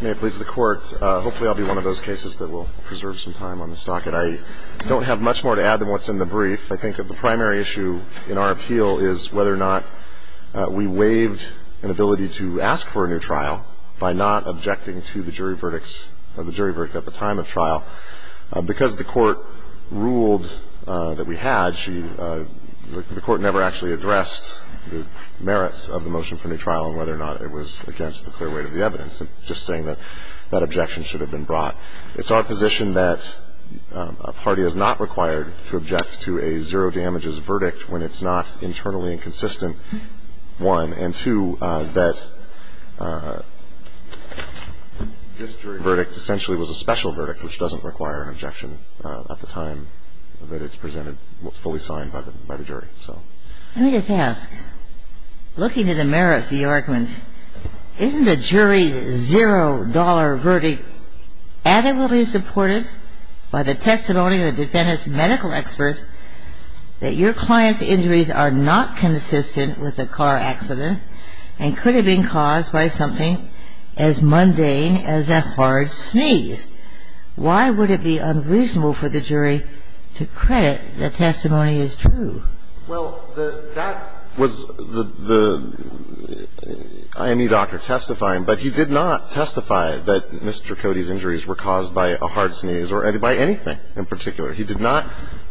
May it please the Court, hopefully I'll be one of those cases that will preserve some time on the stocket. I don't have much more to add than what's in the brief. I think that the primary issue in our appeal is whether or not we waived an ability to ask for a new trial by not objecting to the jury verdict at the time of trial. Because the Court ruled that we had, the Court never actually addressed the merits of the motion for new trial on whether or not it was against the clear weight of the evidence. I'm just saying that that objection should have been brought. It's our position that a party is not required to object to a zero damages verdict when it's not internally inconsistent, one. And two, that this jury verdict essentially was a special verdict, which doesn't require an objection at the time that it's presented, fully signed by the jury. So let me just ask, looking at the merits of the argument, isn't the jury's zero dollar verdict adequately supported by the testimony of the defendant's medical expert that your client's injuries are not consistent with a car accident and could have been caused by something as mundane as a hard sneeze? Why would it be unreasonable for the jury to credit the testimony as true? Well, that was the IME doctor testifying, but he did not testify that Mr. Cody's injuries were caused by a hard sneeze or by anything in particular. He did not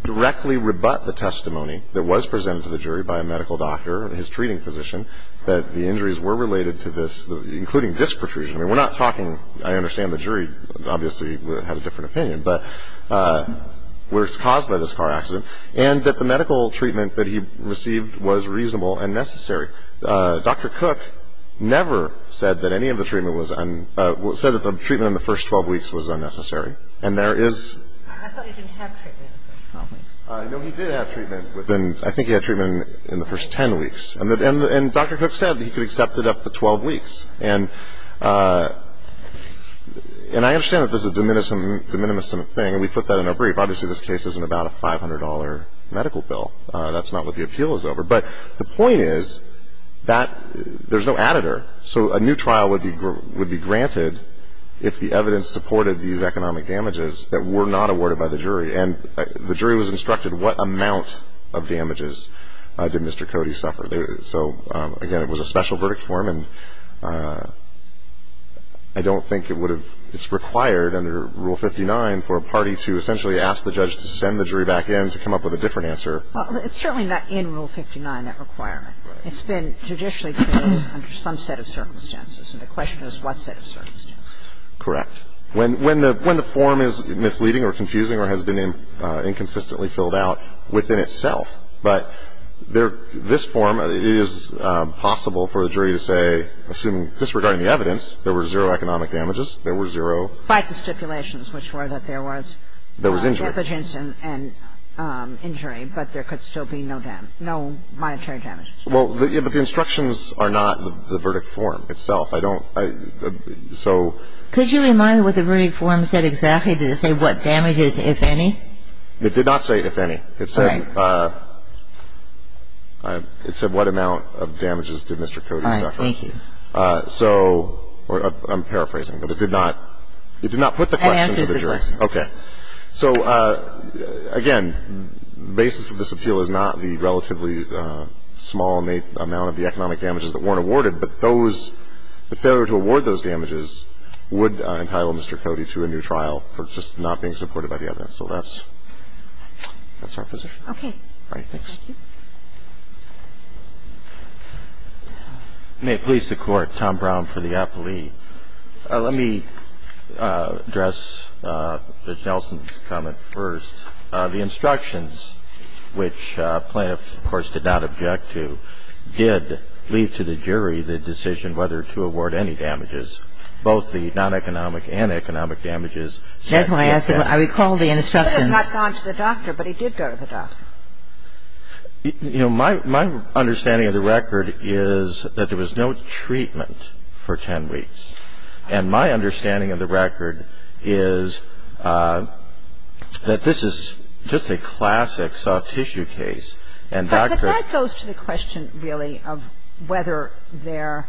directly rebut the testimony that was presented to the jury by a medical doctor and his treating physician that the injuries were related to this, including disc protrusion. I mean, we're not talking, I understand the jury obviously had a different opinion, but where it's caused by this car accident. And that the medical treatment that he received was reasonable and necessary. Dr. Cook never said that any of the treatment was un- said that the treatment in the first 12 weeks was unnecessary. And there is- I thought he didn't have treatment in the first 12 weeks. No, he did have treatment within, I think he had treatment in the first 10 weeks. And Dr. Cook said that he could accept it up to 12 weeks. And I understand that this is a de minimis thing, and we put that in our brief. Obviously, this case isn't about a $500 medical bill. That's not what the appeal is over. But the point is that there's no editor. So a new trial would be granted if the evidence supported these economic damages that were not awarded by the jury. And the jury was instructed what amount of damages did Mr. Cody suffer. So, again, it was a special verdict form. And I don't think it would have- it's required under Rule 59 for a party to essentially ask the judge to send the jury back in to come up with a different answer. Well, it's certainly not in Rule 59, that requirement. Right. It's been traditionally filled under some set of circumstances. And the question is what set of circumstances. Correct. When the form is misleading or confusing or has been inconsistently filled out within itself. But this form, it is possible for the jury to say, assuming disregarding the evidence, there were zero economic damages, there were zero- Despite the stipulations, which were that there was- There was injury. Injury, but there could still be no monetary damages. Well, but the instructions are not the verdict form itself. I don't- Could you remind me what the verdict form said exactly? Did it say what damages, if any? It did not say if any. It said- All right. It said what amount of damages did Mr. Cody suffer. All right. Thank you. So I'm paraphrasing, but it did not- It did not put the question to the jury. Okay. So, again, the basis of this appeal is not the relatively small amount of the economic damages that weren't awarded, but those, the failure to award those damages would entitle Mr. Cody to a new trial for just not being supported by the evidence. So that's our position. Okay. All right. Thanks. Thank you. May it please the Court, Tom Brown for the appellee. Let me address Judge Nelson's comment first. The instructions, which plaintiffs, of course, did not object to, did leave to the jury the decision whether to award any damages, both the non-economic and economic damages. That's why I asked the question. I recall the instructions. He could have not gone to the doctor, but he did go to the doctor. You know, my understanding of the record is that there was no treatment for 10 weeks. And my understanding of the record is that this is just a classic soft tissue case and doctor. But that goes to the question, really, of whether there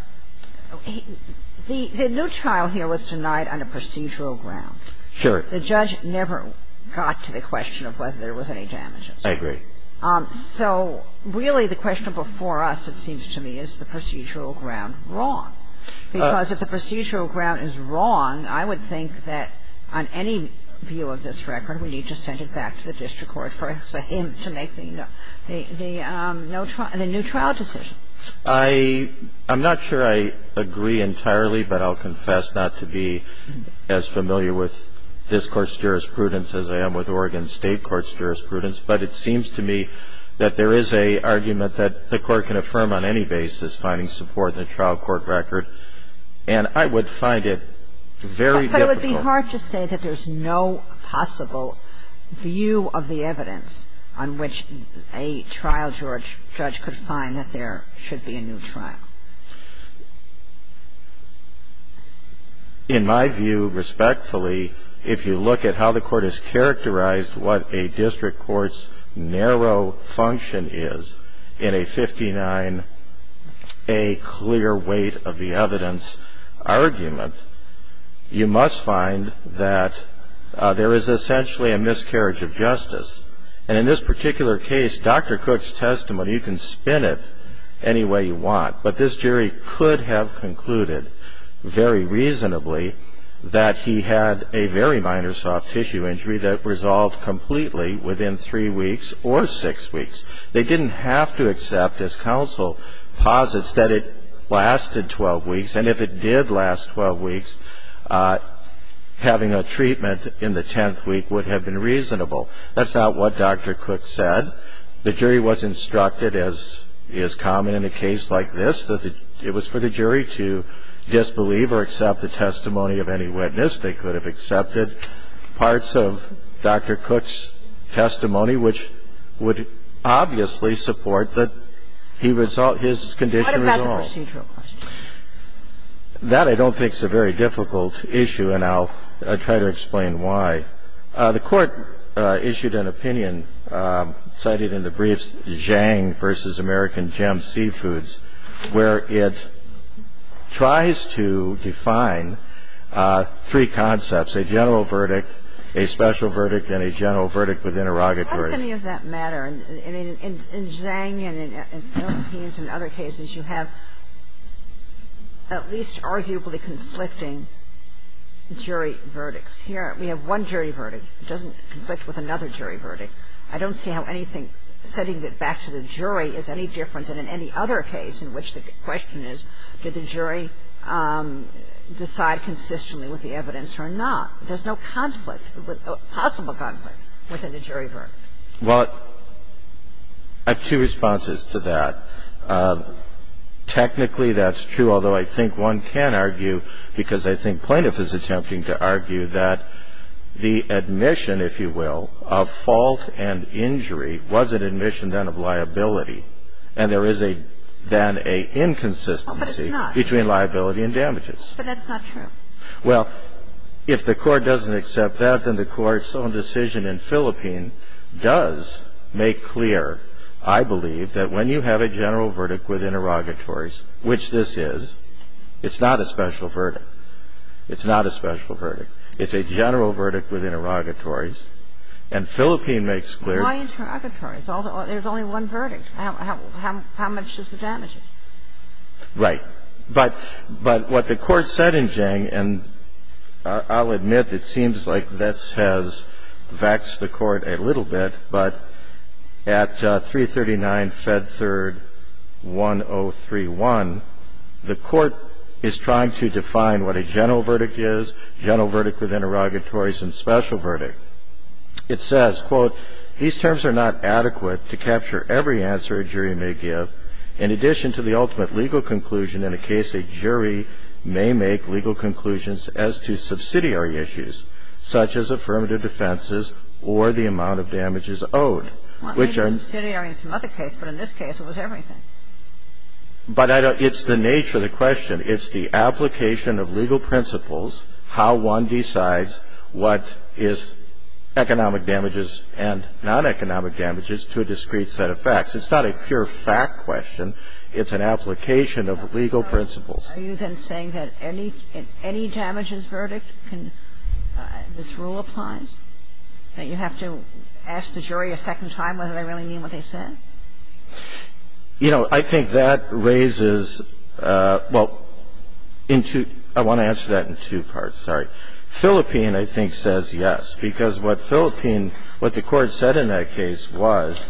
– the new trial here was denied on a procedural ground. Sure. The judge never got to the question of whether there was any damages. I agree. So really the question before us, it seems to me, is the procedural ground wrong? Because if the procedural ground is wrong, I would think that on any view of this record, we need to send it back to the district court for him to make the new trial decision. I'm not sure I agree entirely, but I'll confess not to be as familiar with this Court's jurisprudence as I am with Oregon State Court's jurisprudence. But it seems to me that there is an argument that the Court can affirm on any basis finding support in the trial court record. And I would find it very difficult. But it would be hard to say that there's no possible view of the evidence on which a trial judge could find that there should be a new trial. In my view, respectfully, if you look at how the Court has characterized what a district court's narrow function is in a 59A clear weight of the evidence argument, you must find that there is essentially a miscarriage of justice. And in this particular case, Dr. Cook's testimony, you can spin it any way you want, but this jury could have concluded very reasonably that he had a very minor soft tissue injury that resolved completely within three weeks or six weeks. They didn't have to accept, as counsel posits, that it lasted 12 weeks. And if it did last 12 weeks, having a treatment in the 10th week would have been reasonable. That's not what Dr. Cook said. The jury was instructed, as is common in a case like this, that it was for the jury to disbelieve or accept the testimony of any witness. They could have accepted parts of Dr. Cook's testimony, which would obviously support that he resolved his condition at all. It's not the case that Dr. Cook's testimony is reasonable. It's a procedural question. That I don't think is a very difficult issue, and I'll try to explain why. The Court issued an opinion cited in the briefs, Zhang v. American Gem Seafoods, which is a case in which the judge tries to define three concepts, a general verdict, a special verdict, and a general verdict with interrogatory. How does any of that matter? In Zhang and in Philippines and other cases, you have at least arguably conflicting jury verdicts. Here we have one jury verdict. It doesn't conflict with another jury verdict. I don't see how anything setting it back to the jury is any different than in any other case in which the question is, did the jury decide consistently with the evidence or not? There's no conflict, possible conflict, within a jury verdict. Well, I have two responses to that. Technically, that's true, although I think one can argue, because I think Plaintiff is attempting to argue, that the admission, if you will, of fault and injury was an admission then of liability, and there is then an inconsistency between liability and damages. But that's not true. Well, if the Court doesn't accept that, then the Court's own decision in Philippines does make clear, I believe, that when you have a general verdict with interrogatories, which this is, it's not a special verdict. It's not a special verdict. It's a general verdict with interrogatories. And Philippines makes clear. Why interrogatories? There's only one verdict. How much is the damages? Right. But what the Court said in Zhang, and I'll admit it seems like this has vexed the the Court is trying to define what a general verdict is, general verdict with interrogatories, and special verdict. It says, quote, "...these terms are not adequate to capture every answer a jury may give, in addition to the ultimate legal conclusion in a case a jury may make legal conclusions as to subsidiary issues, such as affirmative defenses or the amount of damages owed, which are..." Well, maybe subsidiary is some other case, but in this case it was everything. But it's the nature of the question. It's the application of legal principles, how one decides what is economic damages and non-economic damages to a discrete set of facts. It's not a pure fact question. It's an application of legal principles. Are you then saying that any damages verdict, this rule applies? That you have to ask the jury a second time whether they really mean what they said? You know, I think that raises, well, I want to answer that in two parts, sorry. Philippine, I think, says yes. Because what the Court said in that case was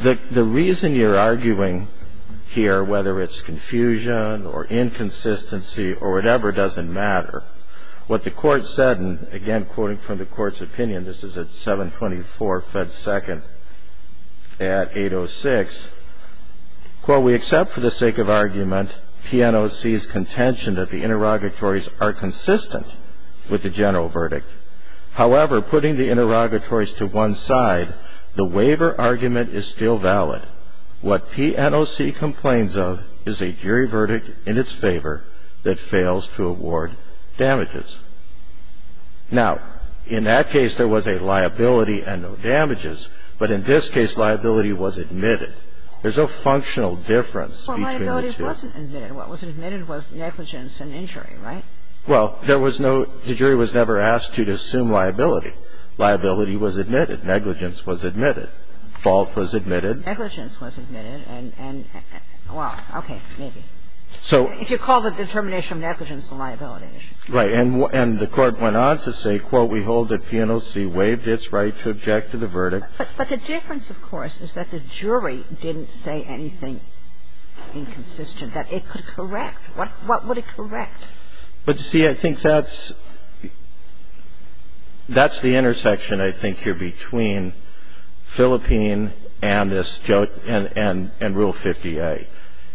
the reason you're arguing here, whether it's confusion or inconsistency or whatever, doesn't matter. What the Court said, and again, quoting from the Court's opinion, this is at 724 Fed Second at 806, quote, "...we accept for the sake of argument PNOC's contention that the interrogatories are consistent with the general verdict. However, putting the interrogatories to one side, the waiver argument is still valid. What PNOC complains of is a jury verdict in its favor that fails to award damages." Now, in that case, there was a liability and no damages. But in this case, liability was admitted. There's no functional difference between the two. Well, liability wasn't admitted. What was admitted was negligence and injury, right? Well, there was no – the jury was never asked to assume liability. Liability was admitted. Negligence was admitted. Fault was admitted. Negligence was admitted. And, well, okay, maybe. So if you call the determination of negligence a liability issue. Right. And the Court went on to say, quote, "...we hold that PNOC waived its right to object to the verdict." But the difference, of course, is that the jury didn't say anything inconsistent, that it could correct. What would it correct? But, you see, I think that's the intersection, I think, here, between Philippine and this – and Rule 50A.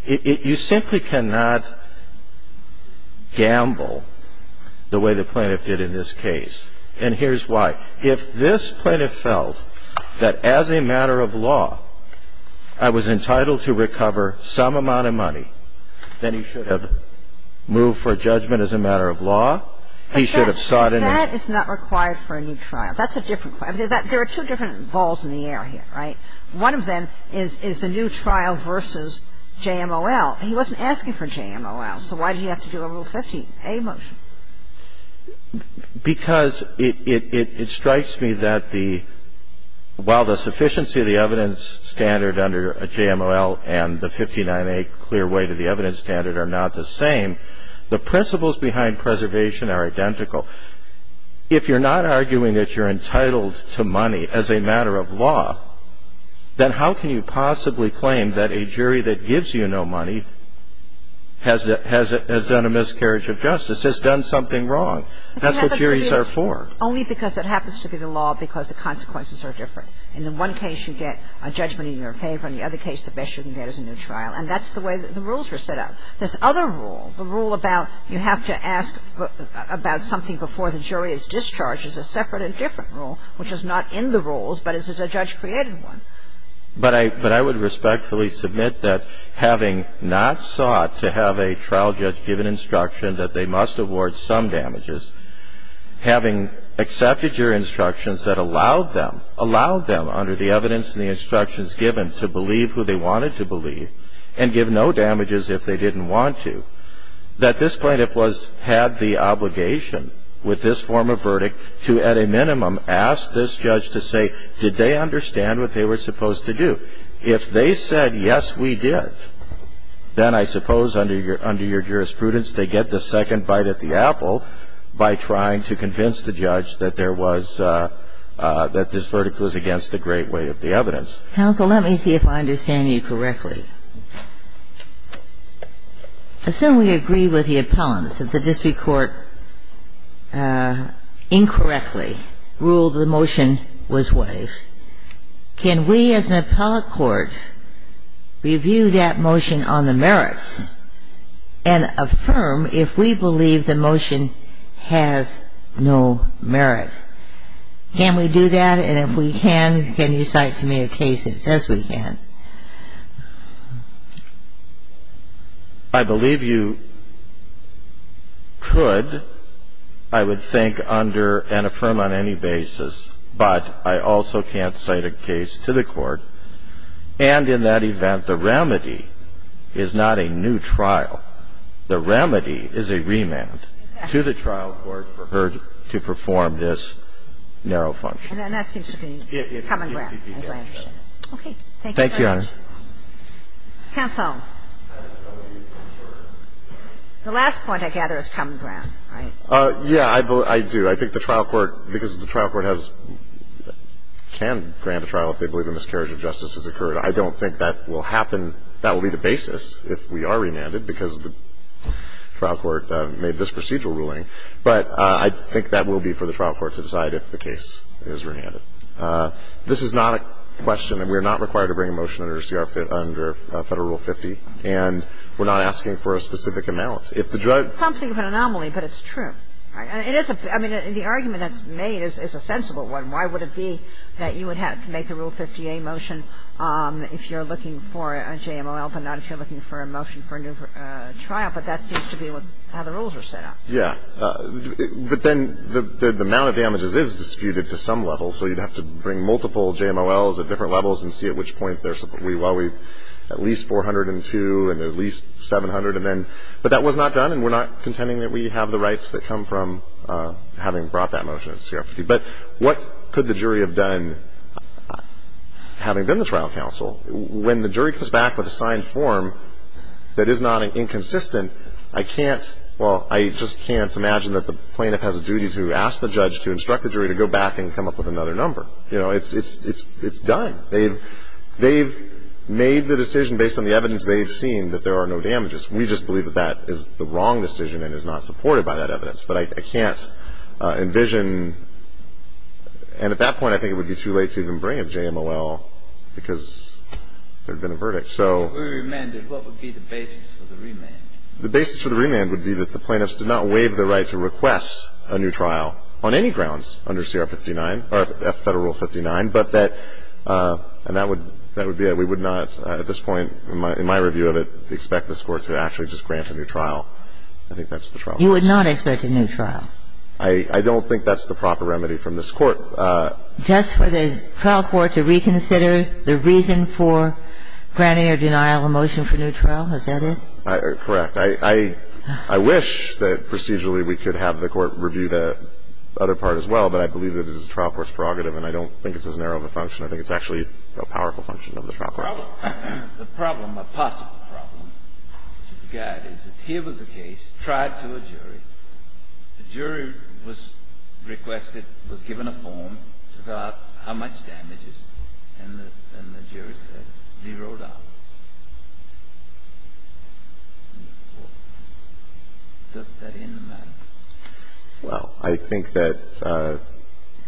You simply cannot gamble the way the plaintiff did in this case. And here's why. If this plaintiff felt that, as a matter of law, I was entitled to recover some amount of money, then he should have moved for judgment as a matter of law. He should have sought an injunction. But that is not required for a new trial. That's a different question. There are two different balls in the air here, right? One of them is the new trial versus JMOL. He wasn't asking for JMOL, so why did he have to do a Rule 50A motion? Because it strikes me that the – while the sufficiency of the evidence standard under JMOL and the 59A clear way to the evidence standard are not the same, the principles behind preservation are identical. If you're not arguing that you're entitled to money as a matter of law, then how can you possibly claim that a jury that gives you no money has done a miscarriage of justice, has done something wrong? That's what juries are for. Only because it happens to be the law because the consequences are different. In the one case, you get a judgment in your favor. In the other case, the best you can get is a new trial. And that's the way the rules were set up. This other rule, the rule about you have to ask about something before the jury is But I would respectfully submit that having not sought to have a trial judge give an instruction that they must award some damages, having accepted your instructions that allowed them, allowed them under the evidence and the instructions given to believe who they wanted to believe and give no damages if they didn't want to, that this plaintiff was – had the obligation with this form of verdict to at a minimum ask this judge to say, did they understand what they were supposed to do? If they said, yes, we did, then I suppose under your – under your jurisprudence, they get the second bite at the apple by trying to convince the judge that there was – that this verdict was against the great weight of the evidence. Counsel, let me see if I understand you correctly. Assume we agree with the appellants. If the district court incorrectly ruled the motion was waived, can we as an appellate court review that motion on the merits and affirm if we believe the motion has no merit? Can we do that? And if we can, can you cite to me a case that says we can? I believe you could, I would think, under an affirm on any basis, but I also can't cite a case to the court. And in that event, the remedy is not a new trial. The remedy is a remand to the trial court for her to perform this narrow function. And that seems to be common ground, as I understand it. Thank you. Thank you, Your Honor. Counsel. The last point I gather is common ground, right? Yeah, I do. I think the trial court, because the trial court has – can grant a trial if they believe a miscarriage of justice has occurred. I don't think that will happen – that will be the basis if we are remanded because the trial court made this procedural ruling. But I think that will be for the trial court to decide if the case is remanded. This is not a question, and we are not required to bring a motion under Federal Rule 50, and we're not asking for a specific amount. If the judge – It's something of an anomaly, but it's true. I mean, the argument that's made is a sensible one. Why would it be that you would have to make a Rule 50a motion if you're looking for a JML, but not if you're looking for a motion for a new trial? But that seems to be how the rules are set up. Yeah. But then the amount of damages is disputed to some level, so you'd have to bring multiple JMLs at different levels and see at which point there's – at least 402 and at least 700. But that was not done, and we're not contending that we have the rights that come from having brought that motion to CRPD. But what could the jury have done, having been the trial counsel? When the jury comes back with a signed form that is not inconsistent, I can't – I can't imagine that the plaintiff has a duty to ask the judge to instruct the jury to go back and come up with another number. You know, it's done. They've made the decision based on the evidence they've seen that there are no damages. We just believe that that is the wrong decision and is not supported by that evidence. But I can't envision – and at that point I think it would be too late to even bring a JML because there'd been a verdict. If it were remanded, what would be the basis for the remand? The basis for the remand would be that the plaintiffs did not waive the right to request a new trial on any grounds under CR59, or Federal Rule 59, but that – and that would be that we would not at this point in my review of it expect this Court to actually just grant a new trial. I think that's the trial counsel. You would not expect a new trial? I don't think that's the proper remedy from this Court. Just for the trial court to reconsider the reason for granting or denial a motion for new trial, is that it? Correct. I wish that procedurally we could have the Court review the other part as well, but I believe that it is a trial court's prerogative and I don't think it's as narrow of a function. I think it's actually a powerful function of the trial court. The problem, a possible problem to be got is that here was a case tried to a jury. The jury was requested, was given a form to go out how much damages, and the jury said zero dollars. Does that end the matter? Well, I think that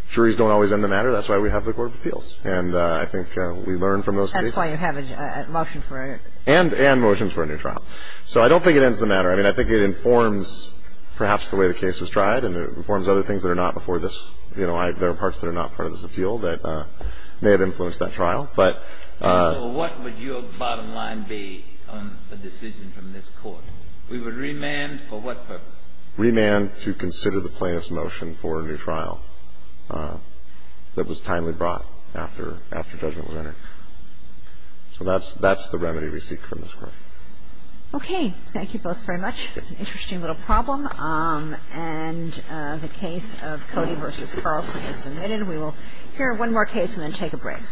juries don't always end the matter. That's why we have the Court of Appeals. And I think we learn from those cases. That's why you have a motion for a new trial. And motions for a new trial. So I don't think it ends the matter. I mean, I think it informs perhaps the way the case was tried and it informs other things that are not before this. that trial. And so what would your bottom line be on a decision from this Court? We would remand for what purpose? Remand to consider the plaintiff's motion for a new trial that was timely brought after judgment was entered. So that's the remedy we seek from this Court. Okay. Thank you both very much. It's an interesting little problem. And the case of Cody v. Carlson is submitted. We will hear one more case and then take a break.